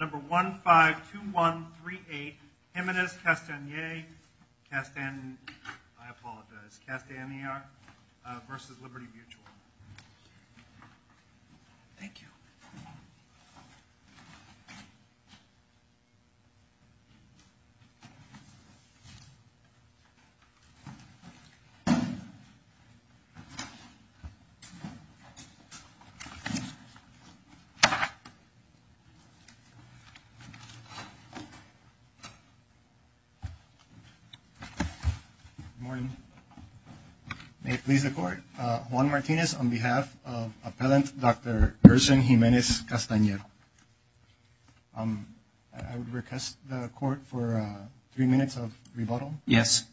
Number 152138, Jimenez-Castaner v. Liberty Mutual Good morning. May it please the Court, Juan Martinez on behalf of Appellant Dr. Gerson Jimenez-Castaner. I would request the Court for three minutes of rebuttal. Yes.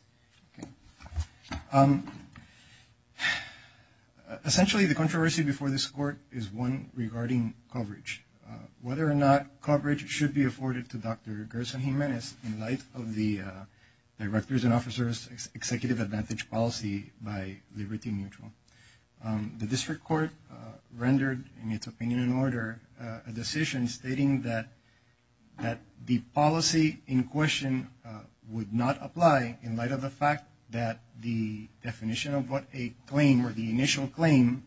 Essentially, the controversy before this Court is one regarding coverage. Whether or not coverage should be afforded to Dr. Gerson Jimenez in light of the Directors and Officers Executive Advantage policy by Liberty Mutual. The District Court rendered, in its opinion and order, a decision stating that the policy in question would not apply in light of the fact that the definition of what a claim or the initial claim.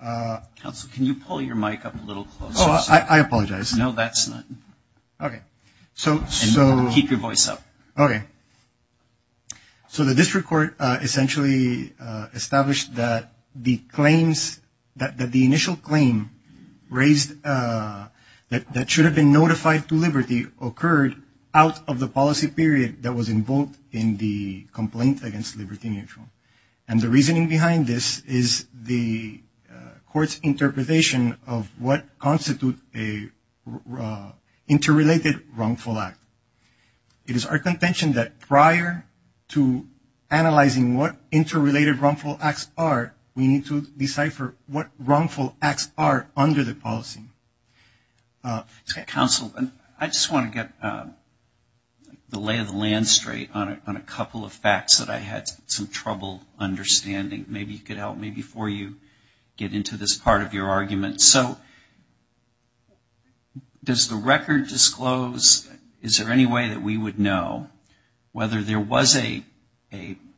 Counsel, can you pull your mic up a little closer? Oh, I apologize. No, that's not. Okay. And keep your voice up. Okay. So the District Court essentially established that the initial claim that should have been notified to Liberty occurred out of the policy period that was involved in the complaint against Liberty Mutual. And the reasoning behind this is the Court's interpretation of what constitutes an interrelated wrongful act. It is our contention that prior to analyzing what interrelated wrongful acts are, we need to decipher what wrongful acts are under the policy. Counsel, I just want to get the lay of the land straight on a couple of facts that I had some trouble understanding. Maybe you could help me before you get into this part of your argument. So does the record disclose, is there any way that we would know whether there was a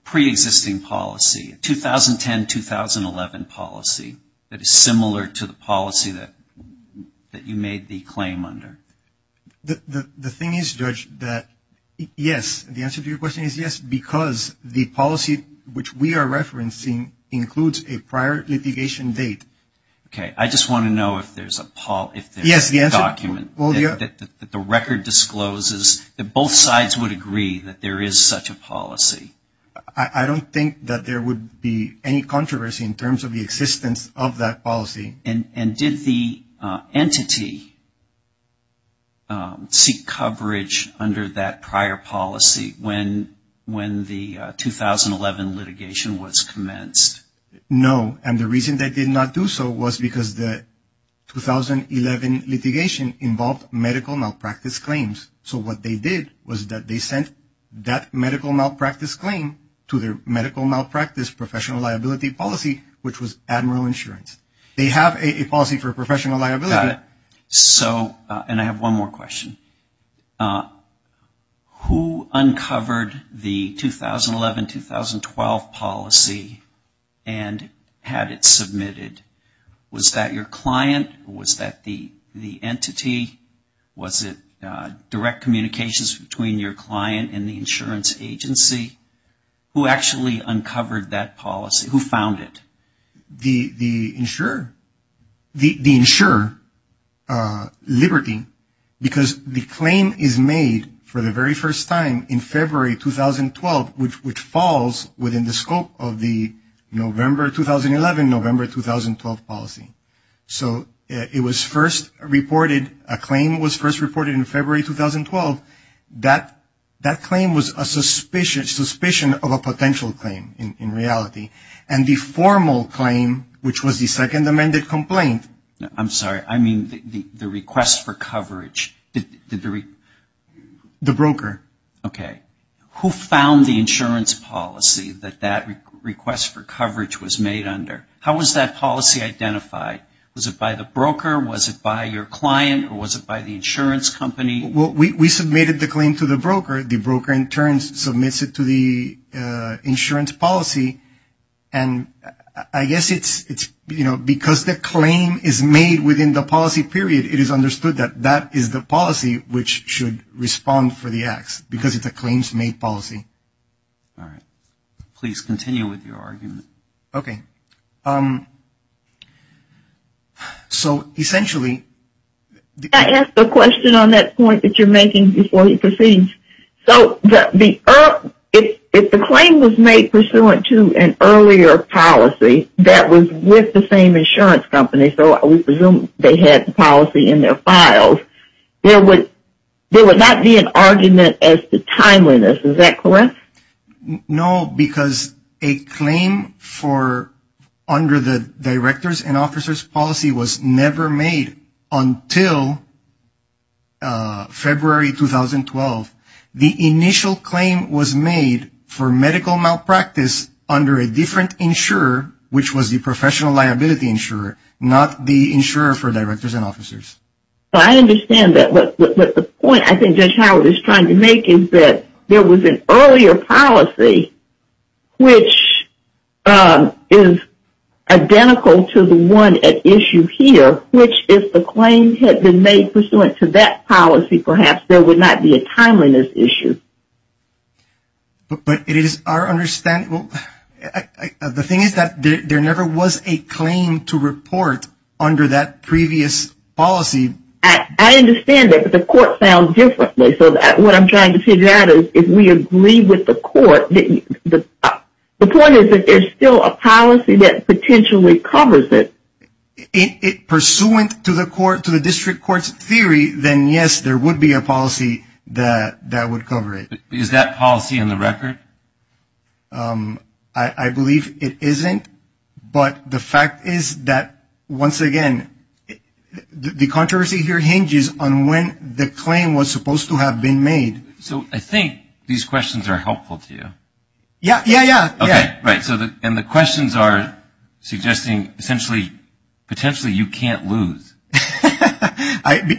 pre-existing policy, a 2010-2011 policy that is similar to the policy that you made the claim under? The thing is, Judge, that yes, the answer to your question is yes, because the policy which we are referencing includes a prior litigation date. Okay. I just want to know if there's a document that the record discloses that both sides would agree that there is such a policy. I don't think that there would be any controversy in terms of the existence of that policy. And did the entity seek coverage under that prior policy when the 2011 litigation was commenced? No, and the reason they did not do so was because the 2011 litigation involved medical malpractice claims. So what they did was that they sent that medical malpractice claim to their medical malpractice professional liability policy, which was Admiral Insurance. They have a policy for professional liability. And I have one more question. Who uncovered the 2011-2012 policy and had it submitted? Was that your client? Was that the entity? Was it direct communications between your client and the insurance agency? Who actually uncovered that policy? Who found it? The insurer, the insurer, Liberty, because the claim is made for the very first time in February 2012, which falls within the scope of the November 2011, November 2012 policy. So it was first reported, a claim was first reported in February 2012. That claim was a suspicion of a potential claim in reality. And the formal claim, which was the second amended complaint. I'm sorry. I mean the request for coverage. The broker. Okay. Who found the insurance policy that that request for coverage was made under? How was that policy identified? Was it by the broker? Was it by your client? Or was it by the insurance company? We submitted the claim to the broker. The broker in turn submits it to the insurance policy. And I guess it's, you know, because the claim is made within the policy period, it is understood that that is the policy which should respond for the acts, because it's a claims made policy. All right. Please continue with your argument. Okay. So essentially. Can I ask a question on that point that you're making before he proceeds? So if the claim was made pursuant to an earlier policy that was with the same insurance company, so we presume they had the policy in their files, there would not be an argument as to timeliness. Is that correct? No, because a claim for under the directors and officers policy was never made until February 2012. The initial claim was made for medical malpractice under a different insurer, which was the professional liability insurer, not the insurer for directors and officers. So I understand that. But the point I think Judge Howard is trying to make is that there was an earlier policy, which is identical to the one at issue here, which if the claim had been made pursuant to that policy, perhaps, there would not be a timeliness issue. But it is our understanding. The thing is that there never was a claim to report under that previous policy. I understand that, but the court found differently. So what I'm trying to figure out is if we agree with the court. The point is that there's still a policy that potentially covers it. Pursuant to the district court's theory, then yes, there would be a policy that would cover it. Is that policy in the record? I believe it isn't. But the fact is that once again, the controversy here hinges on when the claim was supposed to have been made. So I think these questions are helpful to you. Yeah, yeah, yeah. Okay, right. And the questions are suggesting essentially potentially you can't lose.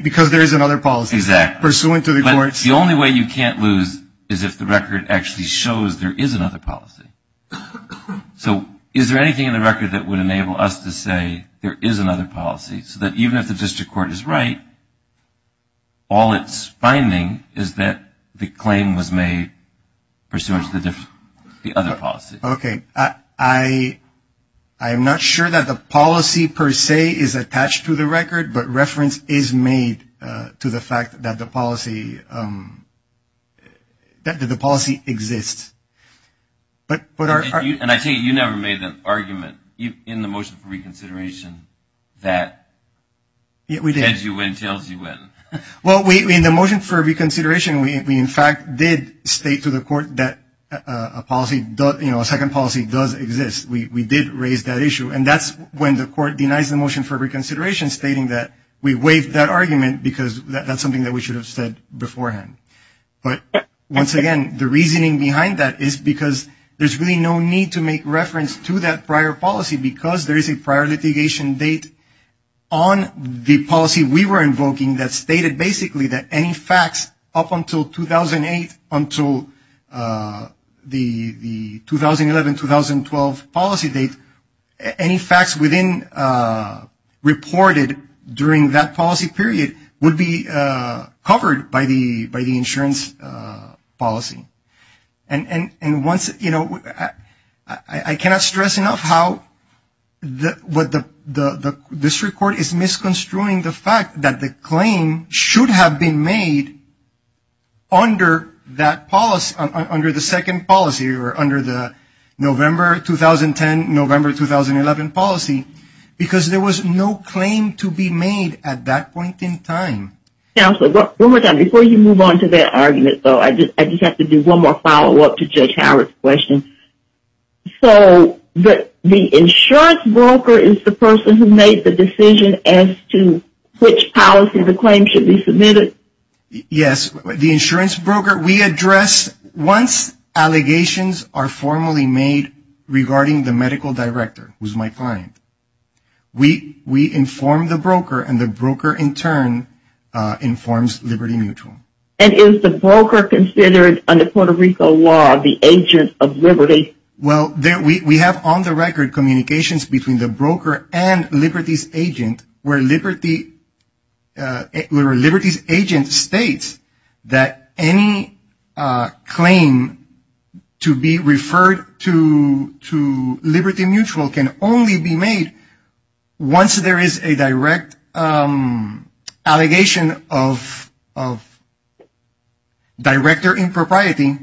Because there is another policy. Exactly. Pursuant to the court's theory. The only way you can't lose is if the record actually shows there is another policy. So is there anything in the record that would enable us to say there is another policy? So that even if the district court is right, all it's finding is that the claim was made pursuant to the other policy. Okay. I am not sure that the policy per se is attached to the record, but reference is made to the fact that the policy exists. And I take it you never made an argument in the motion for reconsideration that heads you win, tails you win. Well, in the motion for reconsideration, we in fact did state to the court that a second policy does exist. We did raise that issue. And that's when the court denies the motion for reconsideration stating that we waived that argument because that's something that we should have said beforehand. But once again, the reasoning behind that is because there's really no need to make reference to that prior policy because there is a prior litigation date on the policy we were invoking that stated basically that any facts up until 2008, until the 2011-2012 policy date, any facts within reported during that policy period would be covered by the insurance policy. And once, you know, I cannot stress enough how what the district court is misconstruing the fact that the claim should have been made under that policy, under the second policy or under the November 2010, November 2011 policy, because there was no claim to be made at that point in time. Counselor, one more time. Before you move on to that argument, though, I just have to do one more follow-up to Judge Howard's question. So the insurance broker is the person who made the decision as to which policy the claim should be submitted? Yes, the insurance broker. We address, once allegations are formally made regarding the medical director, who's my client, we inform the broker and the broker in turn informs Liberty Mutual. And is the broker considered under Puerto Rico law the agent of Liberty? Well, we have on the record communications between the broker and Liberty's agent where Liberty's agent states that any claim to be referred to Liberty Mutual can only be made once there is a direct allegation of director impropriety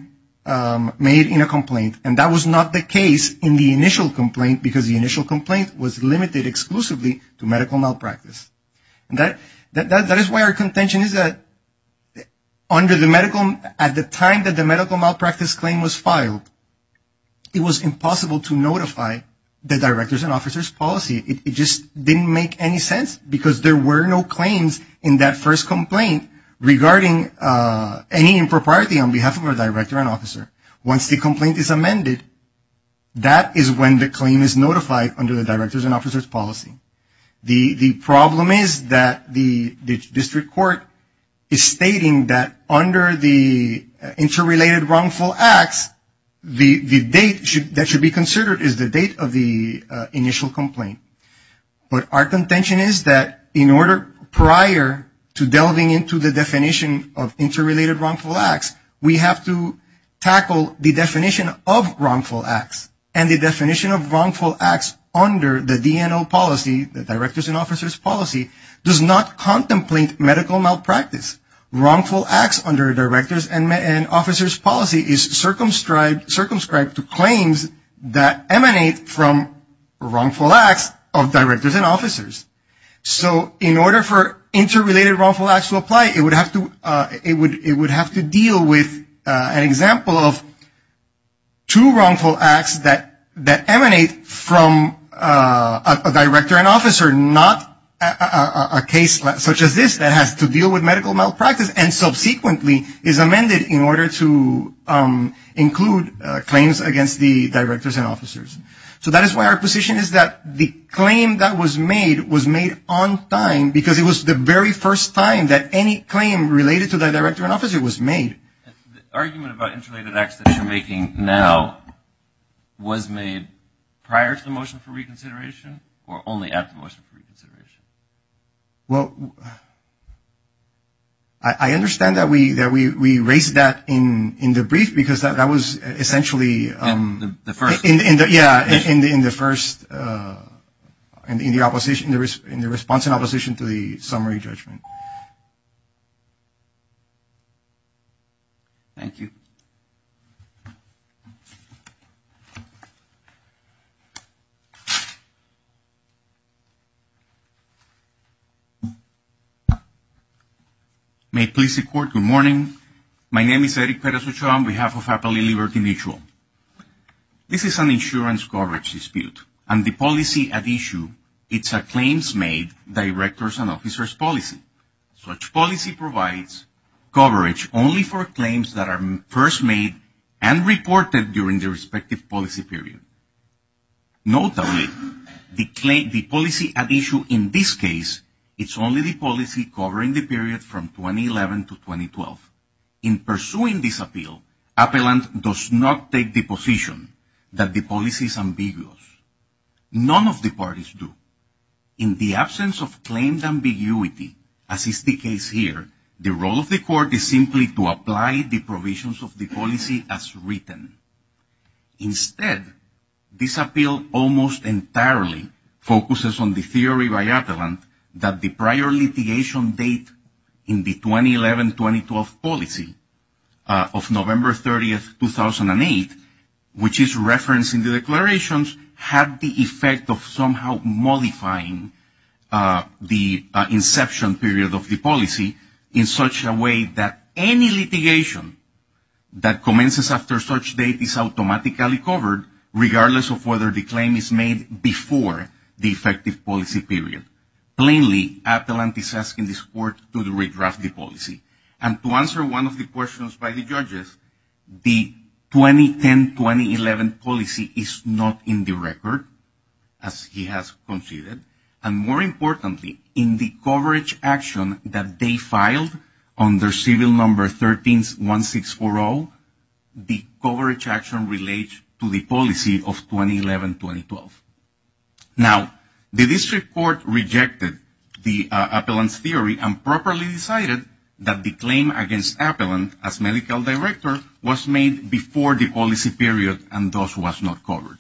made in a complaint. And that was not the case in the initial complaint because the initial complaint was limited exclusively to medical malpractice. That is why our contention is that at the time that the medical malpractice claim was filed, it was impossible to notify the director's and officer's policy. It just didn't make any sense because there were no claims in that first complaint regarding any impropriety on behalf of our director and officer. Once the complaint is amended, that is when the claim is notified under the director's and officer's policy. The problem is that the district court is stating that under the interrelated wrongful acts, the date that should be considered is the date of the initial complaint. But our contention is that in order prior to delving into the definition of interrelated wrongful acts, we have to tackle the definition of wrongful acts. And the definition of wrongful acts under the DNO policy, the director's and officer's policy, does not contemplate medical malpractice. Wrongful acts under director's and officer's policy is circumscribed to claims that emanate from wrongful acts of directors and officers. So in order for interrelated wrongful acts to apply, it would have to deal with an example of two wrongful acts that emanate from a director and officer, not a case such as this that has to deal with medical malpractice, and subsequently is amended in order to include claims against the directors and officers. So that is why our position is that the claim that was made was made on time because it was the very first time that any claim related to the director and officer was made. The argument about interrelated acts that you're making now was made prior to the motion for reconsideration or only after the motion for reconsideration? Well, I understand that we raised that in the brief because that was essentially the first. Yeah, in the first, in the opposition, in the response and opposition to the summary judgment. Thank you. May it please the court, good morning. My name is Eric Perez Ochoa on behalf of Appalachian Liberty Mutual. This is an insurance coverage dispute and the policy at issue, it's a claims made directors and officers policy. Such policy provides coverage only for claims that are first made and reported during the respective policy period. Notably, the policy at issue in this case, it's only the policy covering the period from 2011 to 2012. In pursuing this appeal, Appalachian does not take the position that the policy is ambiguous. None of the parties do. In the absence of claimed ambiguity, as is the case here, the role of the court is simply to apply the provisions of the policy as written. Instead, this appeal almost entirely focuses on the theory by Appalachian that the prior litigation date in the 2011-2012 policy of November 30th, 2008, which is referenced in the declarations, had the effect of somehow modifying the inception period of the policy in such a way that any litigation that commences after such date is automatically covered, regardless of whether the claim is made before the effective policy period. Plainly, Appalachian is asking this court to redraft the policy. And to answer one of the questions by the judges, the 2010-2011 policy is not in the record, as he has conceded. And more importantly, in the coverage action that they filed under civil number 13-1640, how the coverage action relates to the policy of 2011-2012. Now, the district court rejected the appellant's theory and properly decided that the claim against appellant as medical director was made before the policy period and thus was not covered.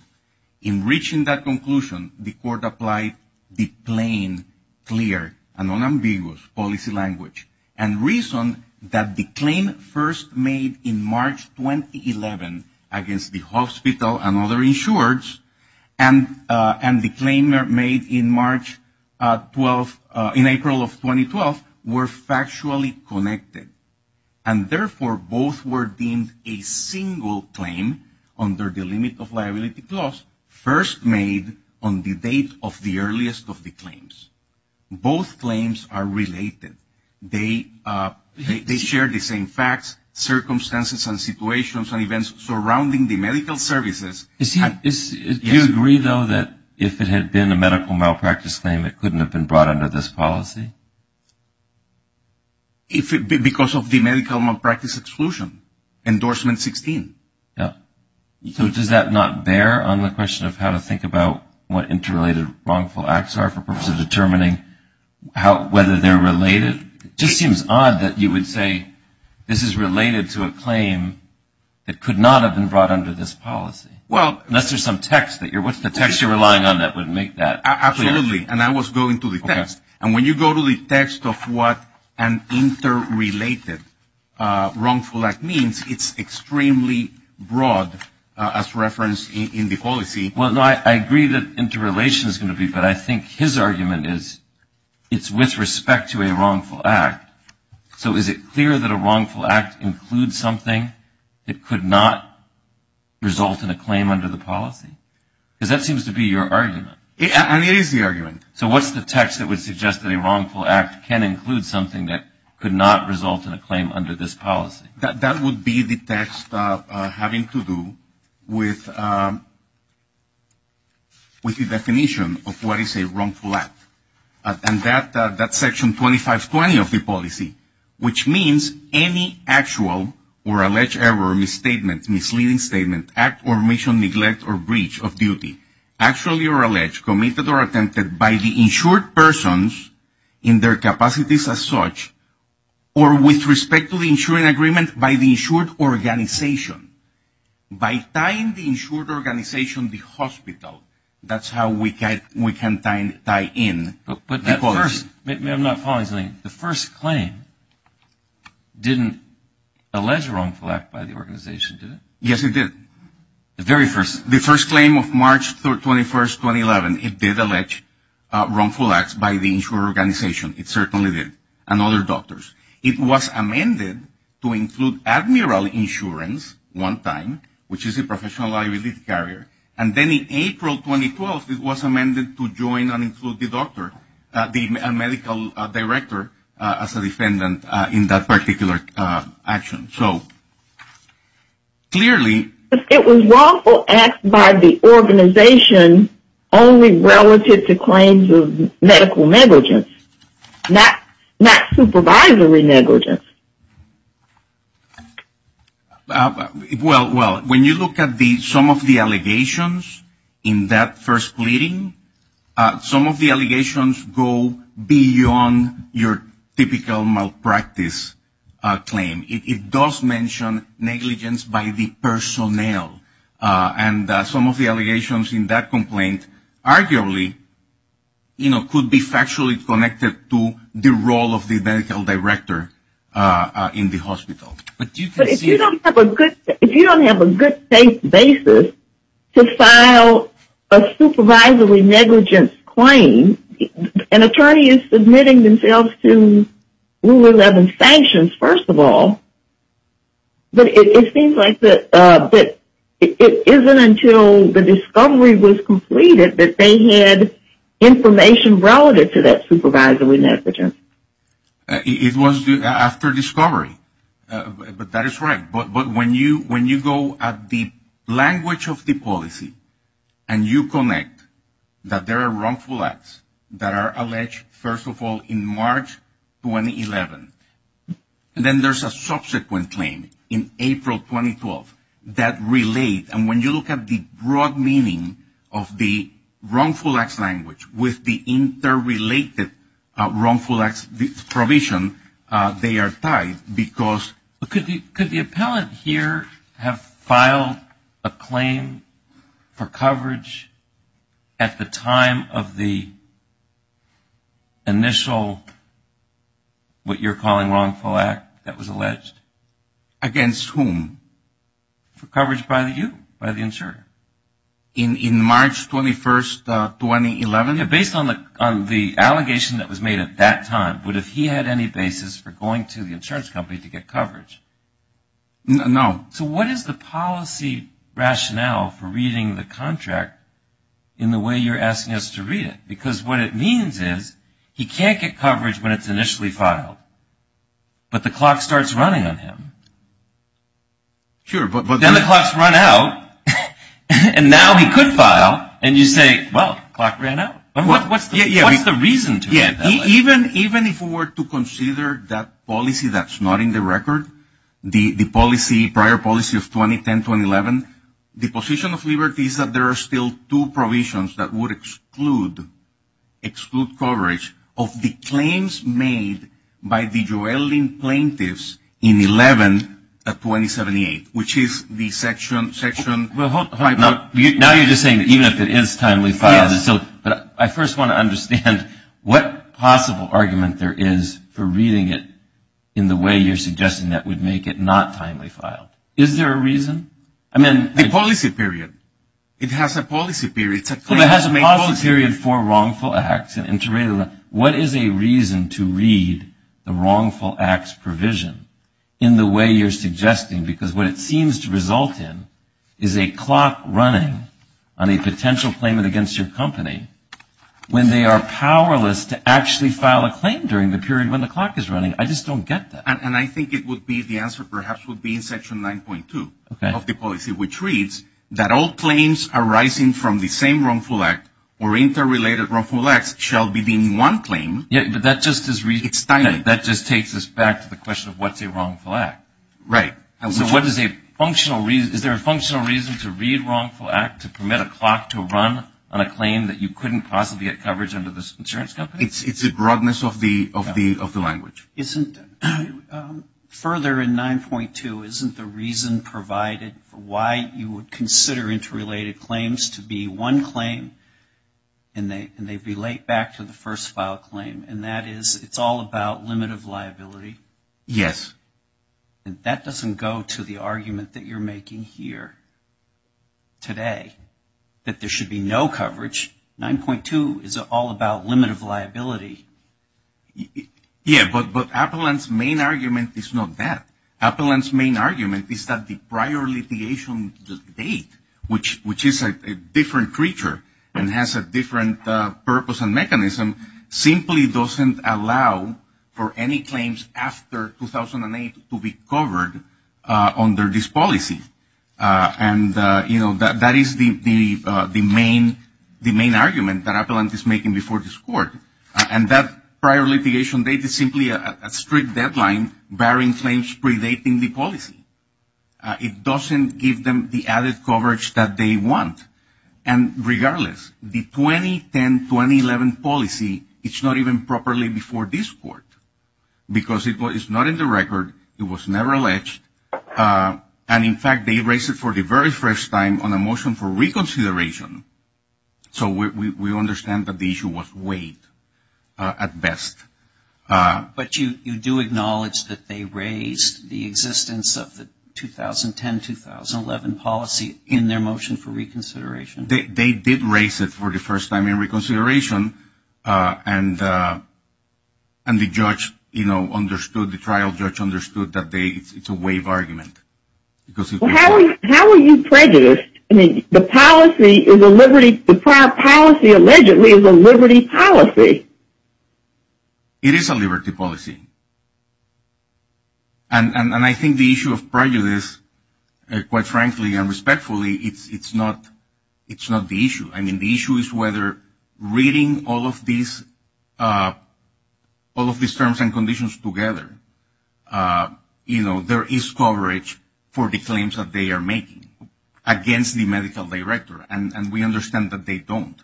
In reaching that conclusion, the court applied the plain, clear, and unambiguous policy language and reasoned that the claim first made in March 2011 against the hospital and other insurers and the claim made in April of 2012 were factually connected. And therefore, both were deemed a single claim under the limit of liability clause first made on the date of the earliest of the claims. Both claims are related. They share the same facts, circumstances, and situations and events surrounding the medical services. Do you agree, though, that if it had been a medical malpractice claim, it couldn't have been brought under this policy? Because of the medical malpractice exclusion, endorsement 16. So does that not bear on the question of how to think about what interrelated wrongful acts are for purposes of determining whether they're related? It just seems odd that you would say this is related to a claim that could not have been brought under this policy. Unless there's some text that you're relying on that would make that clear. Absolutely. And I was going to the text. And when you go to the text of what an interrelated wrongful act means, it's extremely broad as referenced in the policy. Well, I agree that interrelation is going to be, but I think his argument is it's with respect to a wrongful act. So is it clear that a wrongful act includes something that could not result in a claim under the policy? Because that seems to be your argument. And it is the argument. So what's the text that would suggest that a wrongful act can include something that could not result in a claim under this policy? That would be the text having to do with the definition of what is a wrongful act. And that's Section 2520 of the policy, which means any actual or alleged error, misstatement, misleading statement, act or mission, neglect or breach of duty, actually or alleged, committed or attempted by the insured persons in their capacities as such, or with respect to the insuring agreement by the insured organization. By tying the insured organization to the hospital, that's how we can tie in. But that first, maybe I'm not following something. The first claim didn't allege a wrongful act by the organization, did it? Yes, it did. The very first. The first claim of March 21st, 2011, it did allege wrongful acts by the insured organization. It certainly did. And other doctors. It was amended to include admiral insurance one time, which is a professional liability carrier. And then in April 2012, it was amended to join and include the doctor, the medical director, as a defendant in that particular action. So, clearly. It was wrongful acts by the organization only relative to claims of medical negligence, not supervisory negligence. Well, when you look at some of the allegations in that first pleading, some of the allegations go beyond your typical malpractice claim. It does mention negligence by the personnel. And some of the allegations in that complaint arguably, you know, could be factually connected to the role of the medical director in the hospital. But if you don't have a good case basis to file a supervisory negligence claim, an attorney is submitting themselves to Rule 11 sanctions, first of all. But it seems like that it isn't until the discovery was completed that they had information relative to that supervisory negligence. It was after discovery. But that is right. But when you go at the language of the policy and you connect that there are wrongful acts that are alleged, first of all, in March 2011, and then there's a subsequent claim in April 2012 that relate. And when you look at the broad meaning of the wrongful acts language with the interrelated wrongful acts provision, they are tied because Could the appellant here have filed a claim for coverage at the time of the initial what you're calling wrongful act that was alleged? Against whom? For coverage by you, by the insurer. In March 21, 2011? Based on the allegation that was made at that time, would if he had any basis for going to the insurance company to get coverage? No. So what is the policy rationale for reading the contract in the way you're asking us to read it? Because what it means is he can't get coverage when it's initially filed. But the clock starts running on him. Sure. Then the clocks run out, and now he could file, and you say, well, clock ran out. What's the reason to do that? Even if we were to consider that policy that's not in the record, the policy, prior policy of 2010-2011, the position of liberty is that there are still two provisions that would exclude coverage of the claims made by the Joelleen plaintiffs in 11 of 2078, which is the section 5. Now you're just saying that even if it is timely filed. Yes. But I first want to understand what possible argument there is for reading it in the way you're suggesting that would make it not timely filed. Is there a reason? The policy period. It has a policy period. Well, it has a policy period for wrongful acts. What is a reason to read the wrongful acts provision in the way you're suggesting? Because what it seems to result in is a clock running on a potential claimant against your company when they are powerless to actually file a claim during the period when the clock is running. I just don't get that. And I think it would be the answer perhaps would be in section 9.2 of the policy, which reads that all claims arising from the same wrongful act or interrelated wrongful acts shall be deemed one claim. But that just takes us back to the question of what's a wrongful act. Right. Is there a functional reason to read wrongful act to permit a clock to run on a claim that you couldn't possibly get coverage under this insurance company? It's the broadness of the language. Further in 9.2, isn't the reason provided for why you would consider interrelated claims to be one claim, and they relate back to the first file claim, and that is it's all about limit of liability? Yes. That doesn't go to the argument that you're making here today, that there should be no coverage. Yeah, but Appellant's main argument is not that. Appellant's main argument is that the prior litigation date, which is a different creature and has a different purpose and mechanism, simply doesn't allow for any claims after 2008 to be covered under this policy. And, you know, that is the main argument that Appellant is making before this Court. And that prior litigation date is simply a strict deadline bearing claims predating the policy. It doesn't give them the added coverage that they want. And regardless, the 2010-2011 policy, it's not even properly before this Court because it's not in the record. It was never alleged. And, in fact, they raised it for the very first time on a motion for reconsideration. So we understand that the issue was waived at best. But you do acknowledge that they raised the existence of the 2010-2011 policy in their motion for reconsideration? They did raise it for the first time in reconsideration, and the judge, you know, understood, the trial judge understood that it's a waived argument. Well, how are you prejudiced? I mean, the policy is a liberty, the prior policy allegedly is a liberty policy. It is a liberty policy. And I think the issue of prejudice, quite frankly and respectfully, it's not the issue. I mean, the issue is whether reading all of these terms and conditions together, you know, there is coverage for the claims that they are making against the medical director. And we understand that they don't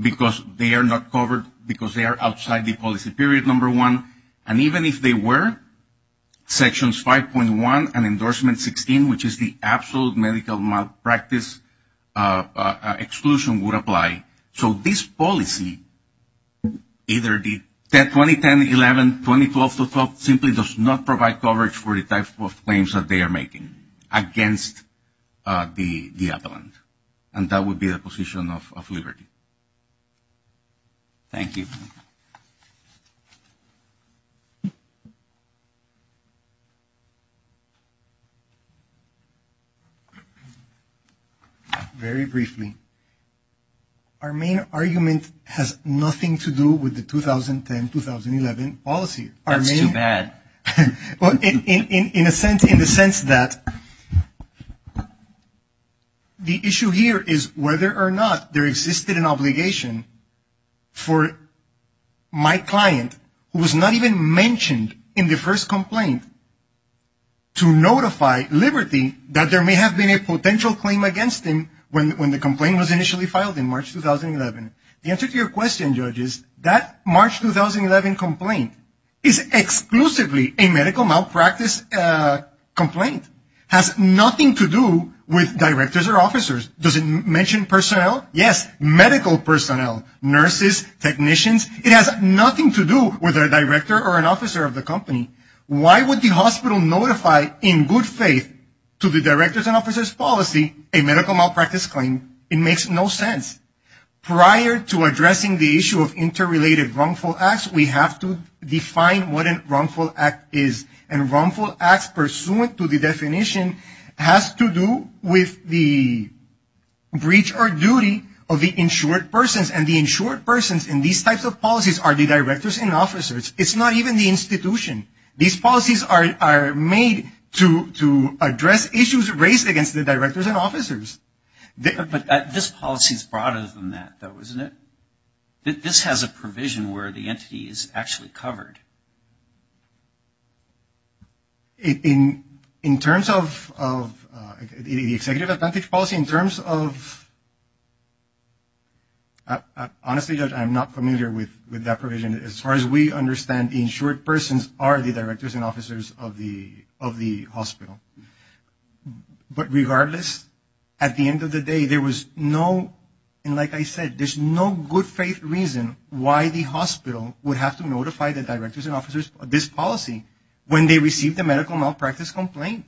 because they are not covered because they are outside the policy period, number one. And even if they were, Sections 5.1 and Endorsement 16, which is the absolute medical malpractice exclusion, would apply. So this policy, either the 2010-2011, 2012-2012, simply does not provide coverage for the type of claims that they are making against the appellant. And that would be the position of liberty. Thank you. Thank you. Very briefly, our main argument has nothing to do with the 2010-2011 policy. That's too bad. In the sense that the issue here is whether or not there existed an obligation for my client, who was not even mentioned in the first complaint, to notify liberty that there may have been a potential claim against him when the complaint was initially filed in March 2011. The answer to your question, Judge, is that March 2011 complaint is exclusively a medical malpractice complaint. It has nothing to do with directors or officers. Does it mention personnel? Yes, medical personnel, nurses, technicians. It has nothing to do with a director or an officer of the company. Why would the hospital notify in good faith to the director's and officer's policy a medical malpractice claim? It makes no sense. Prior to addressing the issue of interrelated wrongful acts, we have to define what a wrongful act is. And wrongful acts pursuant to the definition has to do with the breach or duty of the insured persons. And the insured persons in these types of policies are the directors and officers. It's not even the institution. These policies are made to address issues raised against the directors and officers. But this policy is broader than that, though, isn't it? This has a provision where the entity is actually covered. In terms of the executive advantage policy, in terms of – honestly, Judge, I'm not familiar with that provision. As far as we understand, the insured persons are the directors and officers of the hospital. But regardless, at the end of the day, there was no – and like I said, there's no good faith reason why the hospital would have to notify the directors and officers of this policy when they received a medical malpractice complaint.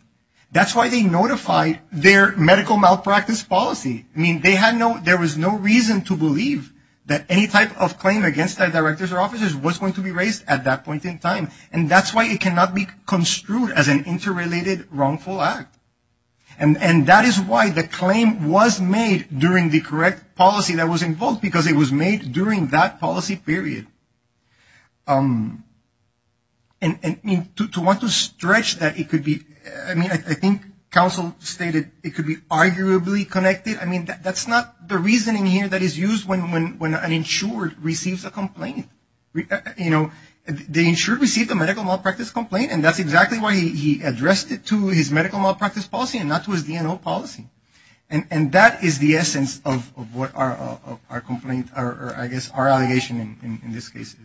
That's why they notified their medical malpractice policy. I mean, they had no – there was no reason to believe that any type of claim against the directors or officers was going to be raised at that point in time. And that's why it cannot be construed as an interrelated wrongful act. And that is why the claim was made during the correct policy that was involved, because it was made during that policy period. And to want to stretch that, it could be – I mean, I think counsel stated it could be arguably connected. I mean, that's not the reasoning here that is used when an insured receives a complaint. You know, the insured received a medical malpractice complaint, and that's exactly why he addressed it to his medical malpractice policy and not to his DNO policy. And that is the essence of what our complaint – or I guess our allegation in this case is. Thank you.